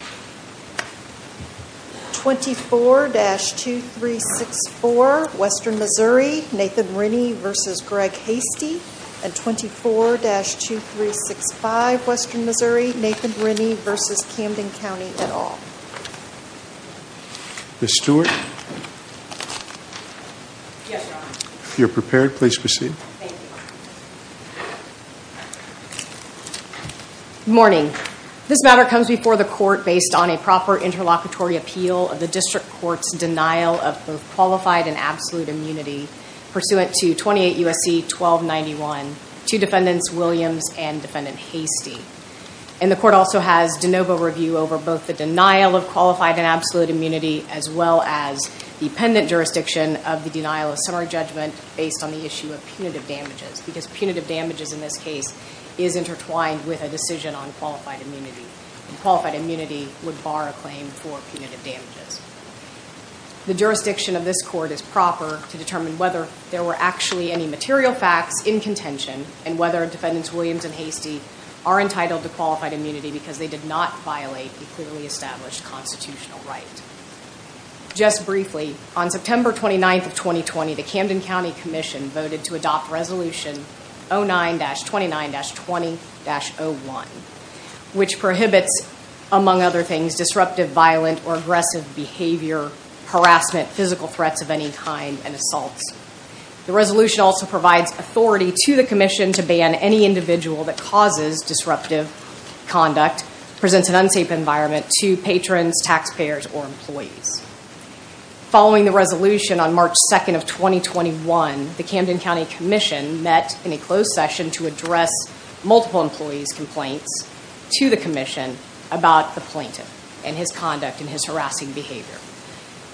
and 24-2365 Western Missouri, Nathan Rinne v. Camden County, et al. Ms. Stewart, if you are prepared, please proceed. Thank you. Good morning. This matter comes before the court based on a proper interlocutory appeal of the District Court's denial of both qualified and absolute immunity pursuant to 28 U.S.C. 1291 to Defendants Williams and Defendant Hasty. And the court also has de novo review over both the denial of qualified and absolute immunity as well as the pendent jurisdiction of the denial of summary judgment based on the issue of punitive damages because punitive damages in this case is intertwined with a decision on qualified immunity and qualified immunity would bar a claim for punitive damages. The jurisdiction of this court is proper to determine whether there were actually any material facts in contention and whether Defendants Williams and Hasty are entitled to qualified immunity because they did not violate a clearly established constitutional right. Just briefly, on September 29, 2020, the Camden County Commission voted to adopt Resolution 09-29-20-01, which prohibits, among other things, disruptive, violent, or aggressive behavior, harassment, physical threats of any kind, and assaults. The resolution also provides authority to the commission to ban any individual that causes disruptive conduct, presents an unsafe environment to patrons, taxpayers, or employees. Following the resolution on March 2, 2021, the Camden County Commission met in a closed session to address multiple employees' complaints to the commission about the plaintiff and his conduct and his harassing behavior.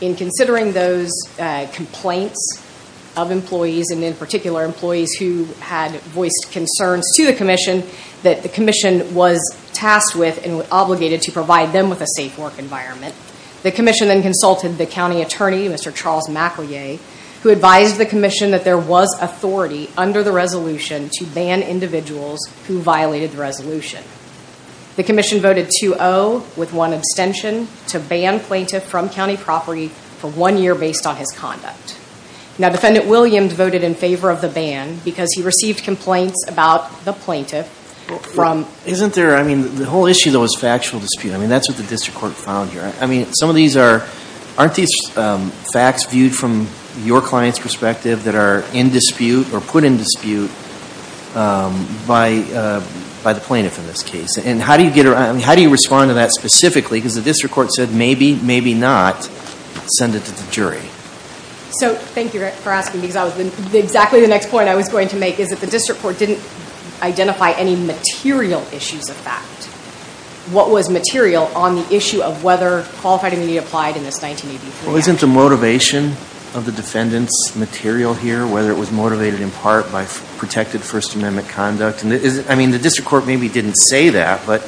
In considering those complaints of employees and, in particular, employees who had voiced concerns to the commission that the commission was tasked with and was obligated to provide them with a safe work environment, the commission then consulted the county attorney, Mr. Charles MacLeay, who advised the commission that there was authority under the resolution to ban individuals who violated the resolution. The commission voted 2-0, with one abstention, to ban plaintiff from county property for one year based on his conduct. Now, Defendant Williams voted in favor of the ban because he received complaints about the plaintiff from... Isn't there, I mean, the whole issue, though, is factual dispute. I mean, that's what the district court found here. I mean, aren't these facts viewed from your client's perspective that are in dispute or put in dispute by the plaintiff in this case? And how do you respond to that specifically? Because the district court said, maybe, maybe not, send it to the jury. So, thank you for asking, because exactly the next point I was going to make is that the district court didn't identify any material issues of fact. What was material on the issue of whether qualified immunity applied in this 1983 act? Well, isn't the motivation of the defendant's material here, whether it was motivated in part by protected First Amendment conduct? I mean, the district court maybe didn't say that, but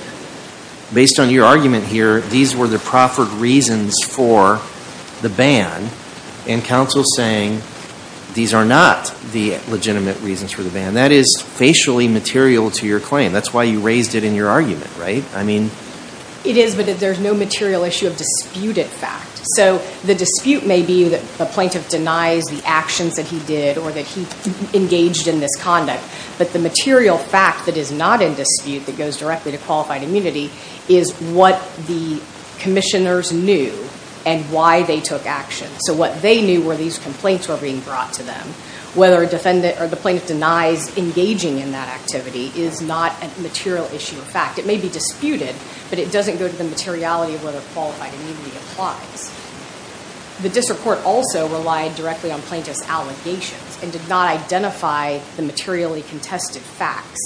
based on your argument here, these were the proffered reasons for the ban. And counsel's saying these are not the legitimate reasons for the ban. That is facially material to your claim. That's why you raised it in your argument, right? I mean. It is, but there's no material issue of disputed fact. So, the dispute may be that the plaintiff denies the actions that he did or that he engaged in this conduct. But the material fact that is not in dispute that goes directly to qualified immunity is what the commissioners knew and why they took action. So, what they knew were these complaints were being brought to them. Whether a defendant or the plaintiff denies engaging in that activity is not a material issue of fact. It may be disputed, but it doesn't go to the materiality of whether qualified immunity applies. The district court also relied directly on plaintiff's allegations and did not identify the materially contested facts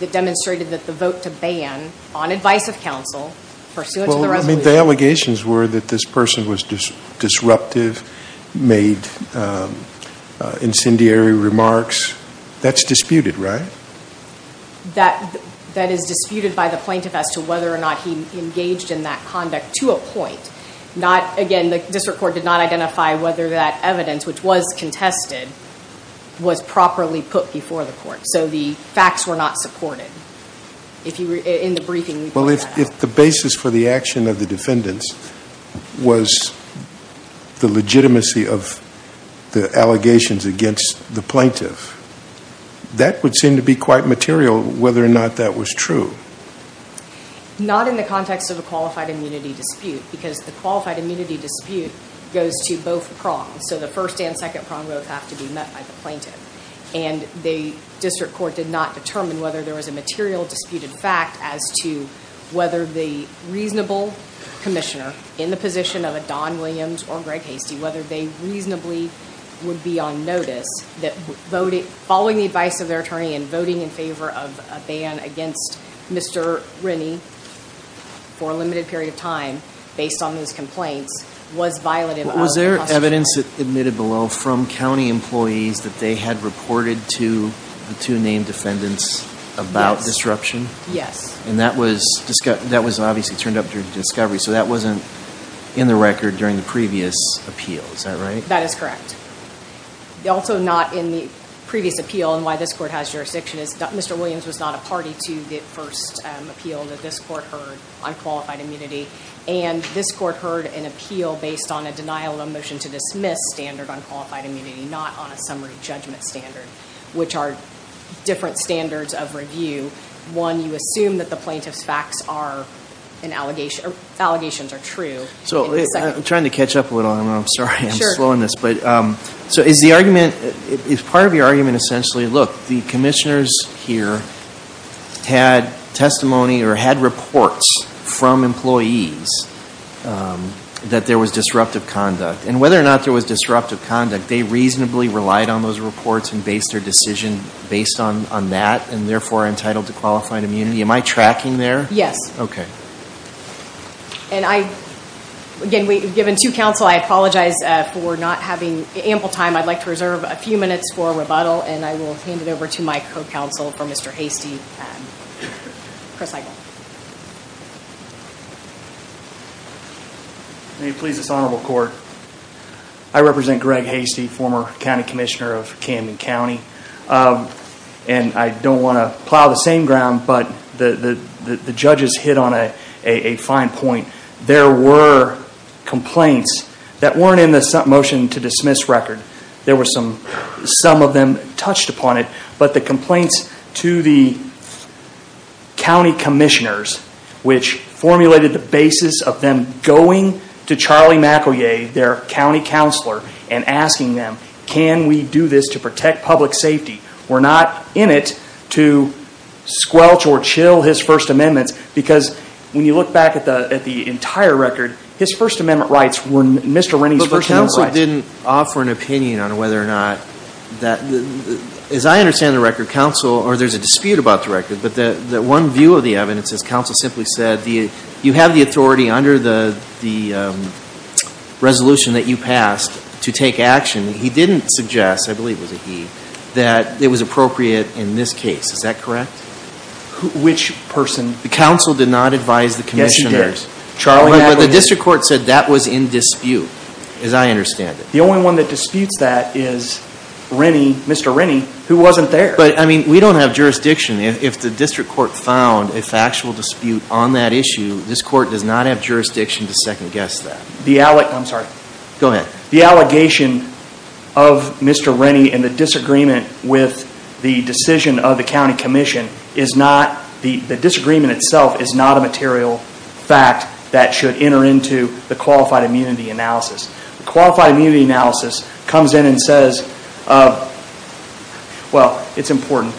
that demonstrated that the vote to ban, on advice of counsel, pursuant to the resolution. So, if the allegations were that this person was disruptive, made incendiary remarks, that's disputed, right? That is disputed by the plaintiff as to whether or not he engaged in that conduct to a point. Again, the district court did not identify whether that evidence, which was contested, was properly put before the court. So, the facts were not supported. In the briefing, we put that. Well, if the basis for the action of the defendants was the legitimacy of the allegations against the plaintiff, that would seem to be quite material whether or not that was true. Not in the context of a qualified immunity dispute because the qualified immunity dispute goes to both prongs. So, the first and second prong vote have to be met by the plaintiff. And the district court did not determine whether there was a material disputed fact as to whether the reasonable commissioner, in the position of a Don Williams or Greg Hastie, whether they reasonably would be on notice that following the advice of their attorney and voting in favor of a ban against Mr. Rennie for a limited period of time, based on those complaints, was violative. Was there evidence admitted below from county employees that they had reported to the two named defendants about disruption? Yes. And that was obviously turned up during discovery. So, that wasn't in the record during the previous appeal. Is that right? That is correct. Also not in the previous appeal and why this court has jurisdiction is that Mr. Williams was not a party to the first appeal that this court heard on qualified immunity. And this court heard an appeal based on a denial of motion to dismiss standard on qualified immunity, not on a summary judgment standard, which are different standards of review. One, you assume that the plaintiff's facts are an allegation or allegations are true. So, I'm trying to catch up a little. I'm sorry. I'm slowing this. So, is part of your argument essentially, look, the commissioners here had testimony or had reports from employees that there was disruptive conduct. And whether or not there was disruptive conduct, they reasonably relied on those reports and based their decision based on that and, therefore, entitled to qualified immunity. Am I tracking there? Yes. Okay. And I, again, given two counsel, I apologize for not having ample time. I'd like to reserve a few minutes for rebuttal and I will hand it over to my co-counsel for Mr. Hastie, Chris Heigl. May it please this honorable court, I represent Greg Hastie, former county commissioner of Camden County. And I don't want to plow the same ground, but the judges hit on a fine point. There were complaints that weren't in the motion to dismiss record. There were some, some of them touched upon it, but the complaints to the county commissioners, which formulated the basis of them going to Charlie McEvoy, their county counselor, and asking them, can we do this to protect public safety? We're not in it to squelch or chill his first amendments because when you look back at the entire record, his first amendment rights were Mr. Rennie's first amendment rights. He also didn't offer an opinion on whether or not that, as I understand the record, counsel, or there's a dispute about the record, but the one view of the evidence is counsel simply said you have the authority under the resolution that you passed to take action. He didn't suggest, I believe it was a he, that it was appropriate in this case. Is that correct? Which person? The counsel did not advise the commissioners. Yes, he did. But the district court said that was in dispute, as I understand it. The only one that disputes that is Rennie, Mr. Rennie, who wasn't there. But, I mean, we don't have jurisdiction. If the district court found a factual dispute on that issue, this court does not have jurisdiction to second guess that. I'm sorry. Go ahead. The allegation of Mr. Rennie and the disagreement with the decision of the county commission is not, the disagreement itself is not a material fact that should enter into the qualified immunity analysis. Qualified immunity analysis comes in and says, well, it's important,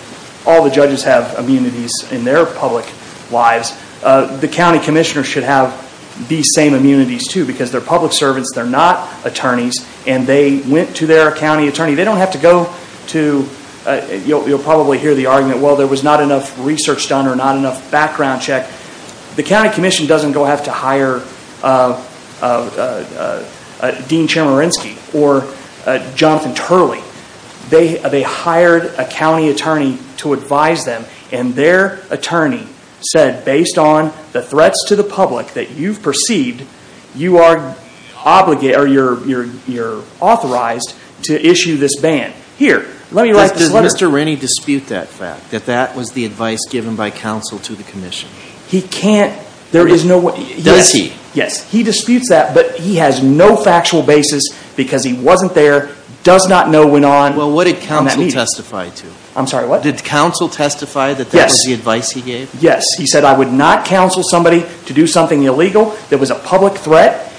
all the judges have immunities in their public lives. The county commissioners should have these same immunities, too, because they're public servants, they're not attorneys, and they went to their county attorney. They don't have to go to, you'll probably hear the argument, well, there was not enough research done or not enough background check. The county commission doesn't go have to hire Dean Chemerinsky or Jonathan Turley. They hired a county attorney to advise them, and their attorney said, based on the threats to the public that you've perceived, you are authorized to issue this ban. Here, let me write this letter. Does Mr. Rennie dispute that fact, that that was the advice given by counsel to the commission? He can't. Does he? Yes, he disputes that, but he has no factual basis because he wasn't there, does not know when on that meeting. Well, what did counsel testify to? I'm sorry, what? Did counsel testify that that was the advice he gave? He said, I would not counsel somebody to do something illegal that was a public threat,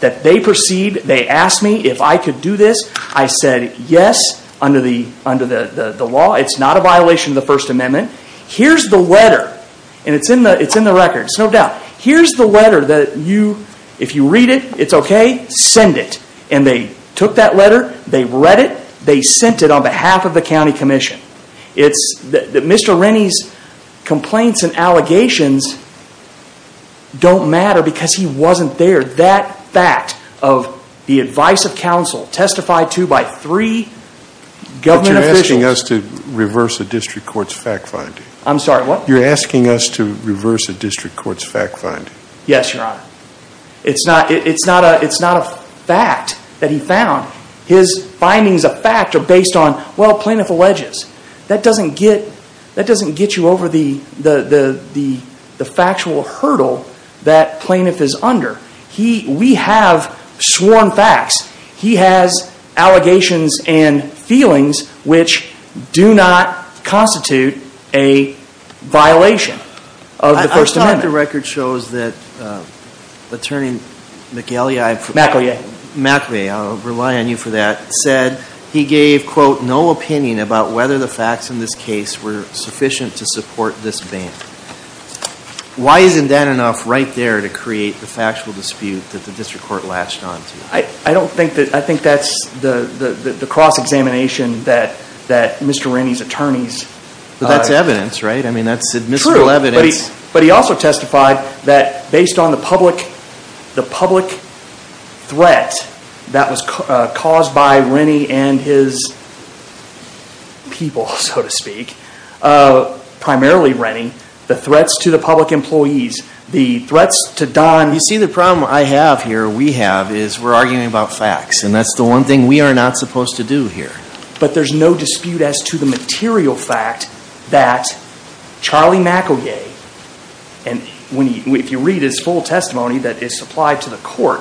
that they perceived, they asked me if I could do this. I said, yes, under the law. It's not a violation of the First Amendment. Here's the letter, and it's in the records, no doubt. Here's the letter that you, if you read it, it's okay, send it. And they took that letter, they read it, they sent it on behalf of the county commission. It's that Mr. Rennie's complaints and allegations don't matter because he wasn't there. That fact of the advice of counsel testified to by three government officials. But you're asking us to reverse a district court's fact finding. I'm sorry, what? You're asking us to reverse a district court's fact finding. Yes, Your Honor. It's not a fact that he found. His findings of fact are based on, well, plaintiff alleges. That doesn't get you over the factual hurdle that plaintiff is under. We have sworn facts. He has allegations and feelings which do not constitute a violation of the First Amendment. I thought the record shows that Attorney McElyai. McElyai. McElyai, I'll rely on you for that, said he gave, quote, no opinion about whether the facts in this case were sufficient to support this ban. Why isn't that enough right there to create the factual dispute that the district court latched on to? I think that's the cross-examination that Mr. Rennie's attorneys. That's evidence, right? That's admissible evidence. But he also testified that based on the public threat that was caused by Rennie and his people, so to speak, primarily Rennie, the threats to the public employees, the threats to Don. You see, the problem I have here, we have, is we're arguing about facts. And that's the one thing we are not supposed to do here. But there's no dispute as to the material fact that Charlie McElyai, and if you read his full testimony that is supplied to the court,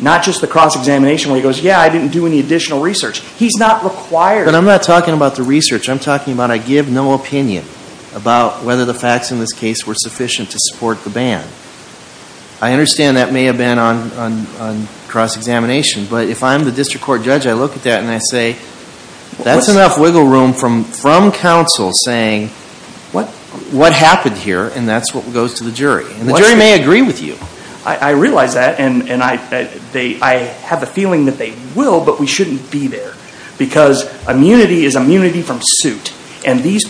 not just the cross-examination where he goes, yeah, I didn't do any additional research. He's not required. But I'm not talking about the research. I'm talking about I give no opinion about whether the facts in this case were sufficient to support the ban. I understand that may have been on cross-examination. But if I'm the district court judge, I look at that and I say, that's enough wiggle room from counsel saying, what happened here? And that's what goes to the jury. And the jury may agree with you. I realize that. And I have a feeling that they will, but we shouldn't be there. Because immunity is immunity from suit. And these,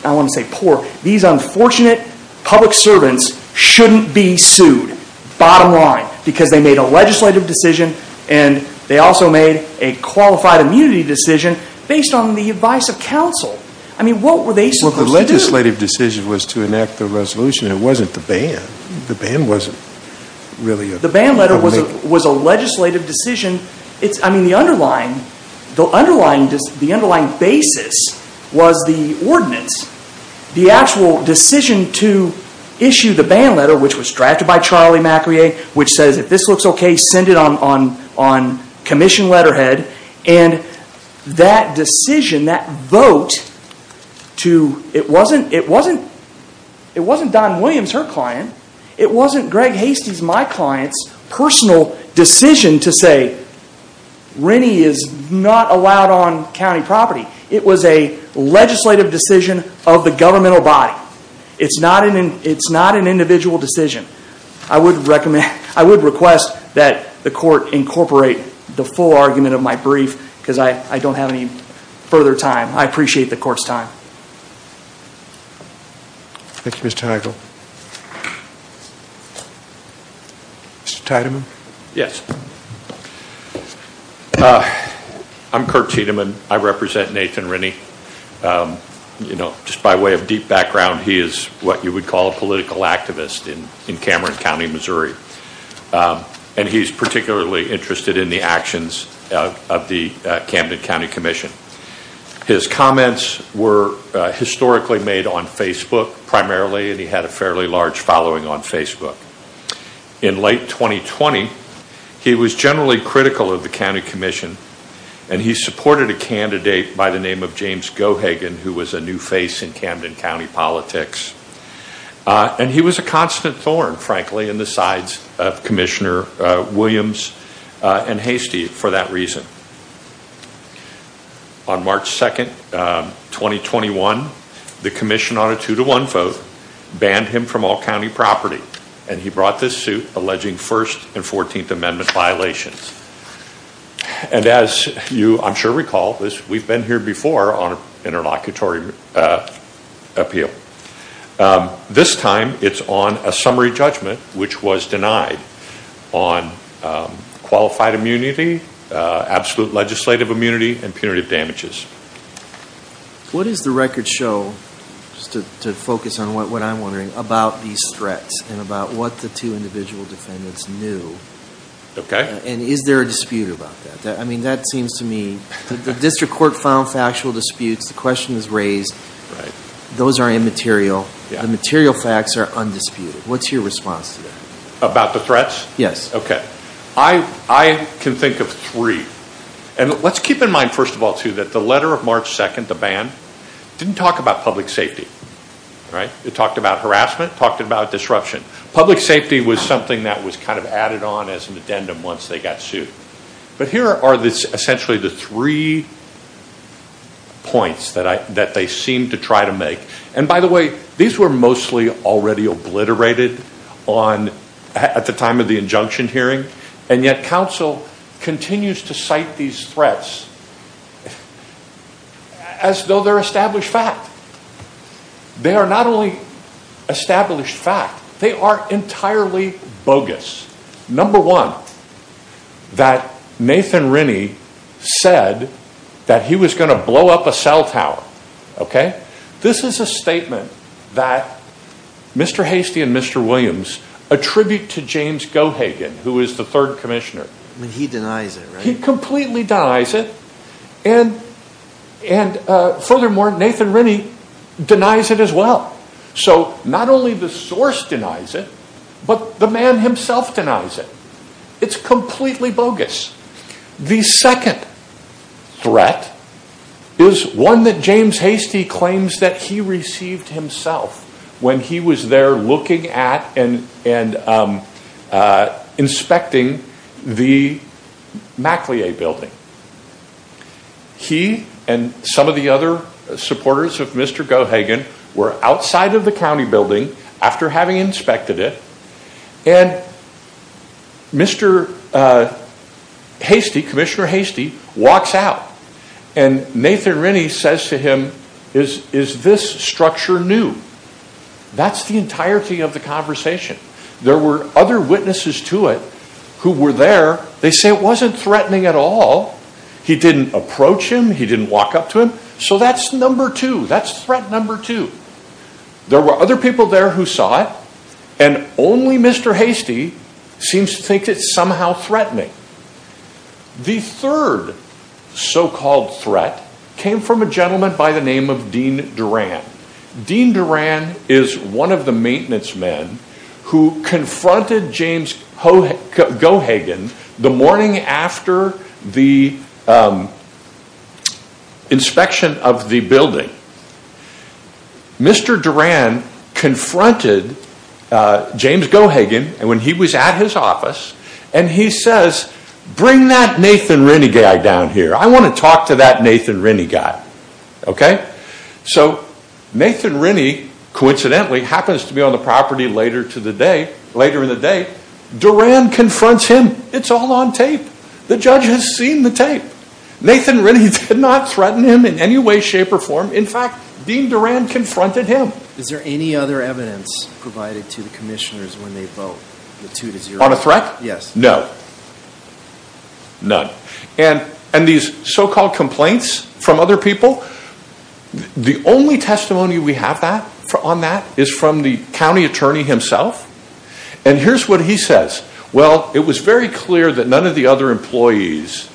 I don't want to say poor, these unfortunate public servants shouldn't be sued. Bottom line. Because they made a legislative decision and they also made a qualified immunity decision based on the advice of counsel. I mean, what were they supposed to do? Well, the legislative decision was to enact the resolution. It wasn't the ban. The ban wasn't really a... The ban letter was a legislative decision. The underlying basis was the ordinance. The actual decision to issue the ban letter, which was drafted by Charlie MacRae, which says, if this looks okay, send it on commission letterhead. And that decision, that vote, it wasn't Don Williams, her client. It wasn't Greg Hastie's, my client's, personal decision to say, Rennie is not allowed on county property. It was a legislative decision of the governmental body. It's not an individual decision. I would request that the court incorporate the full argument of my brief, because I don't have any further time. I appreciate the court's time. Thank you, Mr. Heigl. Yes. I'm Kurt Tiedemann. I represent Nathan Rennie. You know, just by way of deep background, he is what you would call a political activist in Cameron County, Missouri. And he's particularly interested in the actions of the Camden County Commission. His comments were historically made on Facebook primarily, and he had a fairly large following on Facebook. In late 2020, he was generally critical of the County Commission, and he supported a candidate by the name of James Gohagan, who was a new face in Camden County politics. And he was a constant thorn, frankly, in the sides of Commissioner Williams and Hastie for that reason. On March 2nd, 2021, the commission on a two-to-one vote banned him from all county property, and he brought this suit alleging First and 14th Amendment violations. And as you, I'm sure, recall, we've been here before on an interlocutory appeal. This time, it's on a summary judgment, which was denied, on qualified immunity, absolute legislative immunity, and punitive damages. What does the record show, just to focus on what I'm wondering, about these threats and about what the two individual defendants knew? And is there a dispute about that? I mean, that seems to me, the district court found factual disputes. The question is raised. Those are immaterial. The material facts are undisputed. What's your response to that? About the threats? Yes. Okay. I can think of three. And let's keep in mind, first of all, too, that the letter of March 2nd, the ban, didn't talk about public safety. It talked about harassment, talked about disruption. Public safety was something that was kind of added on as an addendum once they got sued. But here are essentially the three points that they seemed to try to make. And by the way, these were mostly already obliterated at the time of the injunction hearing. And yet, counsel continues to cite these threats as though they're established fact. They are not only established fact. They are entirely bogus. Number one, that Nathan Rennie said that he was going to blow up a cell tower. Okay? This is a statement that Mr. Hastie and Mr. Williams attribute to James Gohagan, who is the third commissioner. He denies it, right? He completely denies it. And furthermore, Nathan Rennie denies it as well. So not only the source denies it, but the man himself denies it. It's completely bogus. The second threat is one that James Hastie claims that he received himself when he was there looking at and inspecting the MacLea building. He and some of the other supporters of Mr. Gohagan were outside of the county building after having inspected it. And Mr. Hastie, Commissioner Hastie, walks out. And Nathan Rennie says to him, is this structure new? That's the entirety of the conversation. There were other witnesses to it who were there. They say it wasn't threatening at all. He didn't approach him. He didn't walk up to him. So that's number two. That's threat number two. There were other people there who saw it. And only Mr. Hastie seems to think it's somehow threatening. The third so-called threat came from a gentleman by the name of Dean Duran. Dean Duran is one of the maintenance men who confronted James Gohagan the morning after the inspection of the building. Mr. Duran confronted James Gohagan when he was at his office. And he says, bring that Nathan Rennie guy down here. I want to talk to that Nathan Rennie guy. Okay? So Nathan Rennie, coincidentally, happens to be on the property later in the day. Duran confronts him. It's all on tape. The judge has seen the tape. Nathan Rennie did not threaten him in any way, shape, or form. In fact, Dean Duran confronted him. Is there any other evidence provided to the commissioners when they vote? On a threat? Yes. No. None. And these so-called complaints from other people, the only testimony we have on that is from the county attorney himself. And here's what he says. Well, it was very clear that none of the other employees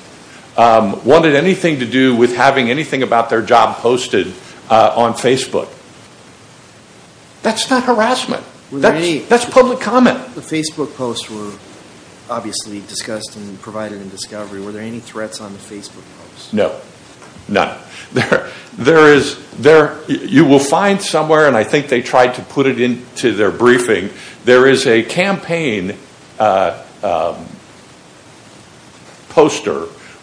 wanted anything to do with having anything about their job posted on Facebook. That's not harassment. That's public comment. The Facebook posts were obviously discussed and provided in discovery. Were there any threats on the Facebook posts? No. None. You will find somewhere, and I think they tried to put it into their briefing, there is a campaign poster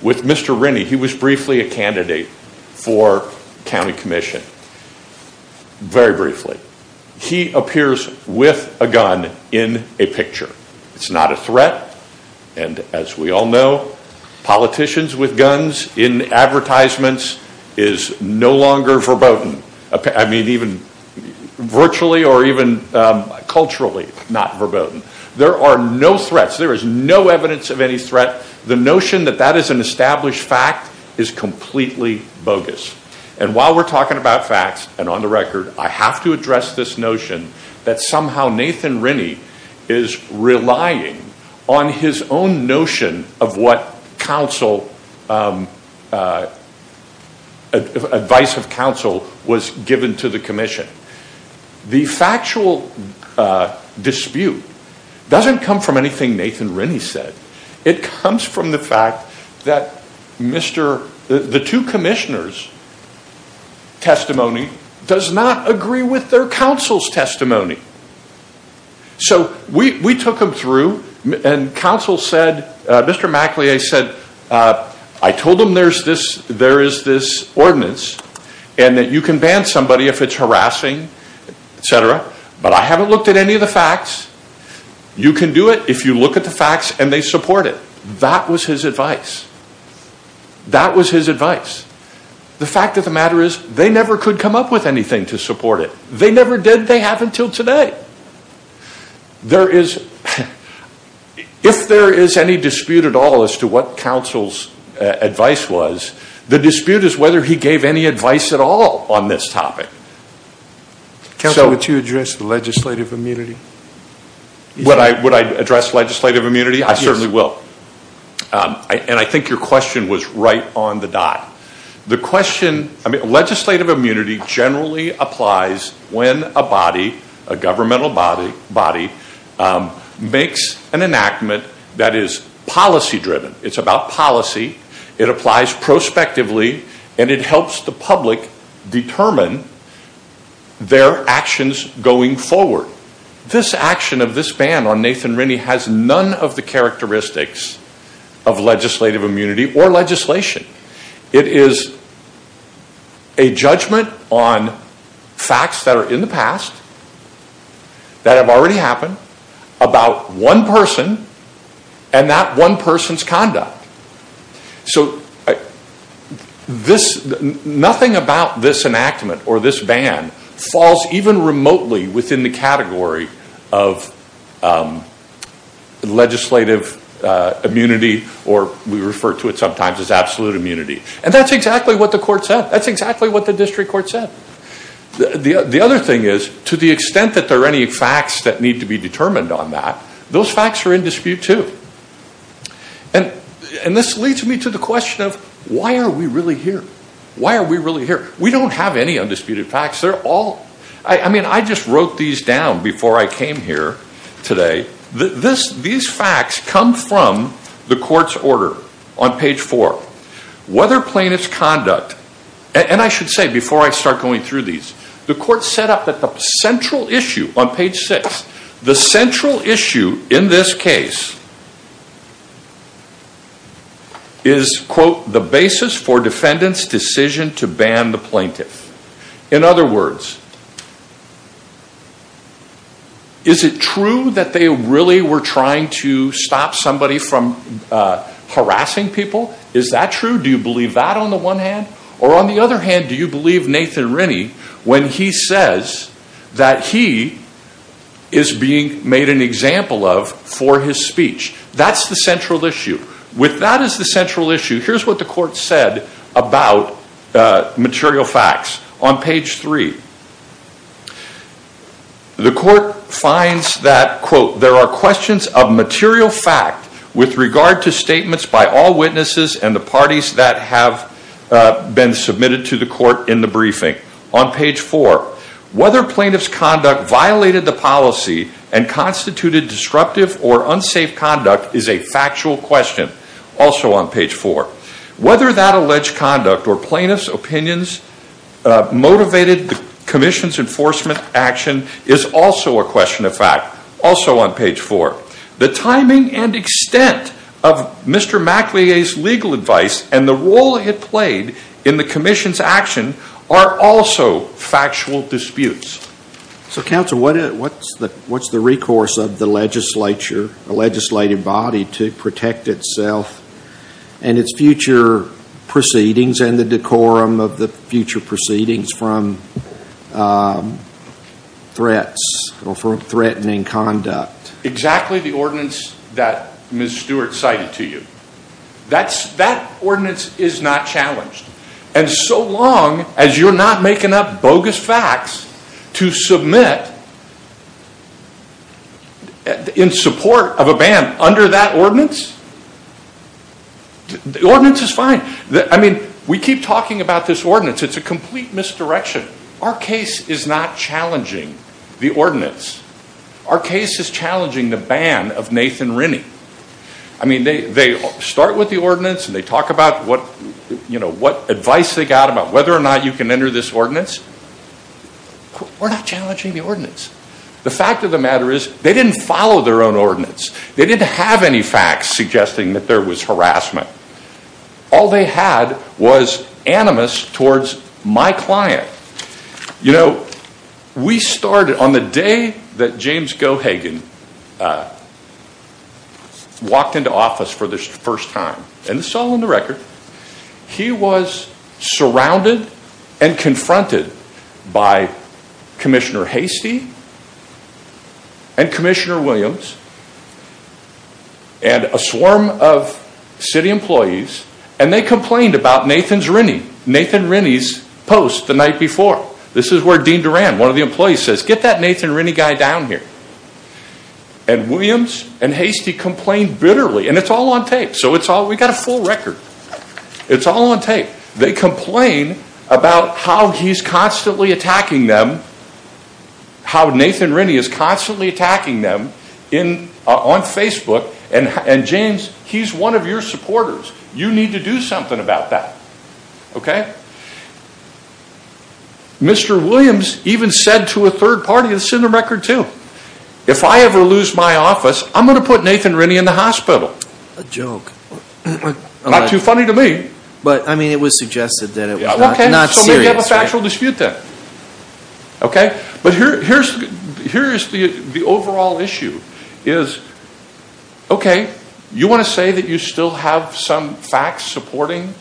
with Mr. Rennie. He was briefly a candidate for county commission. Very briefly. He appears with a gun in a picture. It's not a threat, and as we all know, politicians with guns in advertisements is no longer verboten. I mean, even virtually or even culturally not verboten. There are no threats. There is no evidence of any threat. The notion that that is an established fact is completely bogus. And while we're talking about facts, and on the record, I have to address this notion that somehow Nathan Rennie is relying on his own notion of what advice of counsel was given to the commission. The factual dispute doesn't come from anything Nathan Rennie said. It comes from the fact that the two commissioners' testimony does not agree with their counsel's testimony. So we took them through, and counsel said, Mr. MacLeay said, I told them there is this ordinance and that you can ban somebody if it's harassing, etc., but I haven't looked at any of the facts. You can do it if you look at the facts and they support it. That was his advice. That was his advice. The fact of the matter is they never could come up with anything to support it. They never did. They haven't until today. If there is any dispute at all as to what counsel's advice was, the dispute is whether he gave any advice at all on this topic. Counsel, would you address the legislative immunity? Would I address legislative immunity? I certainly will. And I think your question was right on the dot. The question, I mean, legislative immunity generally applies when a body, a governmental body, makes an enactment that is policy-driven. It's about policy. It applies prospectively and it helps the public determine their actions going forward. This action of this ban on Nathan Rinney has none of the characteristics of legislative immunity or legislation. It is a judgment on facts that are in the past, that have already happened, about one person and that one person's conduct. So nothing about this enactment or this ban falls even remotely within the category of legislative immunity or we refer to it sometimes as absolute immunity. And that's exactly what the court said. That's exactly what the district court said. The other thing is to the extent that there are any facts that need to be determined on that, those facts are in dispute too. And this leads me to the question of why are we really here? Why are we really here? We don't have any undisputed facts. They're all, I mean, I just wrote these down before I came here today. These facts come from the court's order on page four. Whether plaintiff's conduct, and I should say before I start going through these, the court set up that the central issue on page six, the central issue in this case is, quote, the basis for defendant's decision to ban the plaintiff. In other words, is it true that they really were trying to stop somebody from harassing people? Is that true? Do you believe that on the one hand? Or on the other hand, do you believe Nathan Rennie when he says that he is being made an example of for his speech? That's the central issue. With that as the central issue, here's what the court said about material facts on page three. The court finds that, quote, in the briefing on page four. Whether plaintiff's conduct violated the policy and constituted disruptive or unsafe conduct is a factual question. Also on page four. Whether that alleged conduct or plaintiff's opinions motivated the commission's enforcement action is also a question of fact. Also on page four. The timing and extent of Mr. MacLeay's legal advice and the role it played in the commission's action are also factual disputes. So, counsel, what's the recourse of the legislature, the legislative body, to protect itself and its future proceedings and the decorum of the future proceedings from threats or from threatening conduct? Exactly the ordinance that Ms. Stewart cited to you. That ordinance is not challenged. And so long as you're not making up bogus facts to submit in support of a ban under that ordinance, the ordinance is fine. I mean, we keep talking about this ordinance. It's a complete misdirection. Our case is not challenging the ordinance. Our case is challenging the ban of Nathan Rennie. I mean, they start with the ordinance and they talk about what advice they got about whether or not you can enter this ordinance. We're not challenging the ordinance. The fact of the matter is they didn't follow their own ordinance. They didn't have any facts suggesting that there was harassment. All they had was animus towards my client. You know, we started on the day that James Gohagan walked into office for the first time. And this is all on the record. He was surrounded and confronted by Commissioner Hastie and Commissioner Williams and a swarm of city employees. And they complained about Nathan Rennie. Nathan Rennie's post the night before. This is where Dean Duran, one of the employees, says, get that Nathan Rennie guy down here. And Williams and Hastie complained bitterly. And it's all on tape. So we got a full record. It's all on tape. They complain about how he's constantly attacking them, how Nathan Rennie is constantly attacking them on Facebook. And James, he's one of your supporters. You need to do something about that. Okay? Mr. Williams even said to a third party, this is in the record too, if I ever lose my office, I'm going to put Nathan Rennie in the hospital. A joke. Not too funny to me. But, I mean, it was suggested that it was not serious. So maybe you have a factual dispute there. Okay? But here's the overall issue. Okay, you want to say that you still have some facts supporting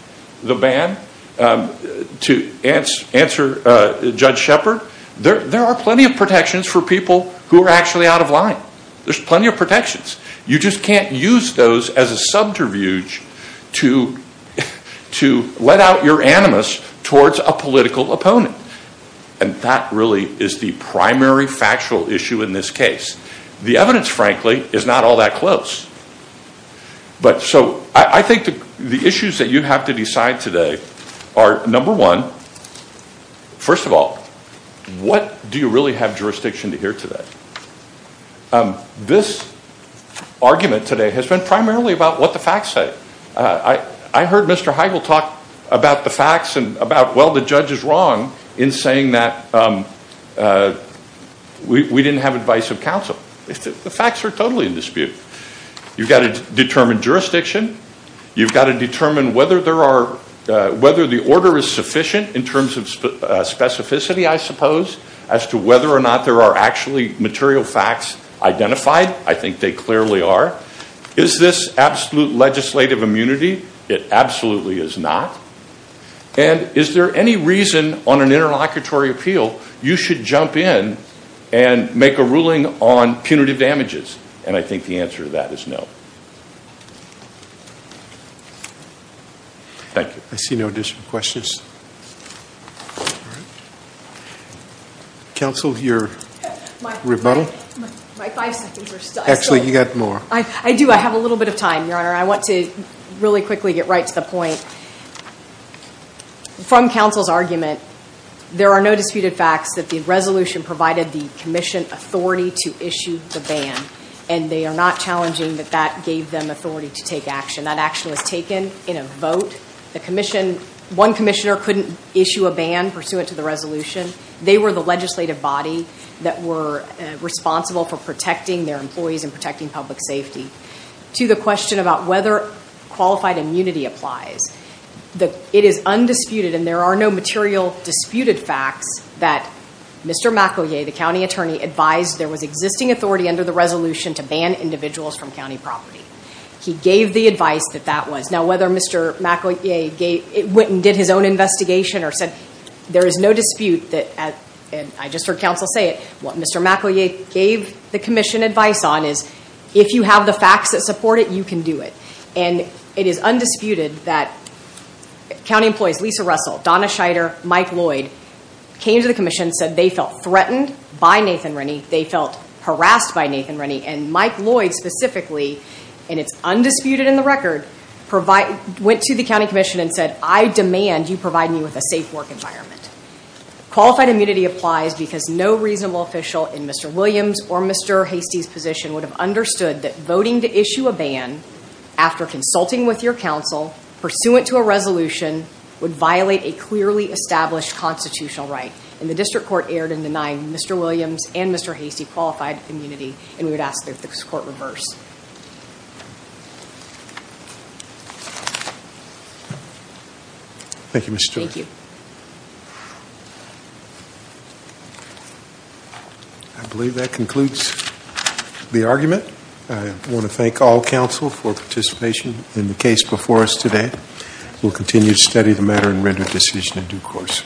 the ban? To answer Judge Shepard, there are plenty of protections for people who are actually out of line. There's plenty of protections. You just can't use those as a subterfuge to let out your animus towards a political opponent. And that really is the primary factual issue in this case. The evidence, frankly, is not all that close. But so I think the issues that you have to decide today are, number one, first of all, what do you really have jurisdiction to hear today? This argument today has been primarily about what the facts say. I heard Mr. Heigl talk about the facts and about, well, the judge is wrong in saying that we didn't have advice of counsel. The facts are totally in dispute. You've got to determine jurisdiction. You've got to determine whether the order is sufficient in terms of specificity, I suppose, as to whether or not there are actually material facts identified. I think they clearly are. Is this absolute legislative immunity? It absolutely is not. And is there any reason on an interlocutory appeal you should jump in and make a ruling on punitive damages? And I think the answer to that is no. Thank you. I see no additional questions. Counsel, your rebuttal? Actually, you've got more. I do. I have a little bit of time, Your Honor. I want to really quickly get right to the point. From counsel's argument, there are no disputed facts that the resolution provided the commission authority to issue the ban, and they are not challenging that that gave them authority to take action. That action was taken in a vote. One commissioner couldn't issue a ban pursuant to the resolution. They were the legislative body that were responsible for protecting their employees and protecting public safety. To the question about whether qualified immunity applies, it is undisputed, and there are no material disputed facts that Mr. McEvoy, the county attorney, advised there was existing authority under the resolution to ban individuals from county property. He gave the advice that that was. Now, whether Mr. McEvoy went and did his own investigation or said there is no dispute, and I just heard counsel say it, what Mr. McEvoy gave the commission advice on is, if you have the facts that support it, you can do it. And it is undisputed that county employees, Lisa Russell, Donna Scheider, Mike Lloyd, came to the commission, said they felt threatened by Nathan Rennie, they felt harassed by Nathan Rennie, and Mike Lloyd specifically, and it's undisputed in the record, went to the county commission and said, I demand you provide me with a safe work environment. Qualified immunity applies because no reasonable official in Mr. Williams or Mr. Hastie's position would have understood that voting to issue a ban after consulting with your counsel, pursuant to a resolution, would violate a clearly established constitutional right. And the district court erred in denying Mr. Williams and Mr. Hastie qualified immunity, and we would ask that this court reverse. Thank you, Ms. Stewart. Thank you. I believe that concludes the argument. I want to thank all counsel for participation in the case before us today. We'll continue to study the matter and render a decision in due course.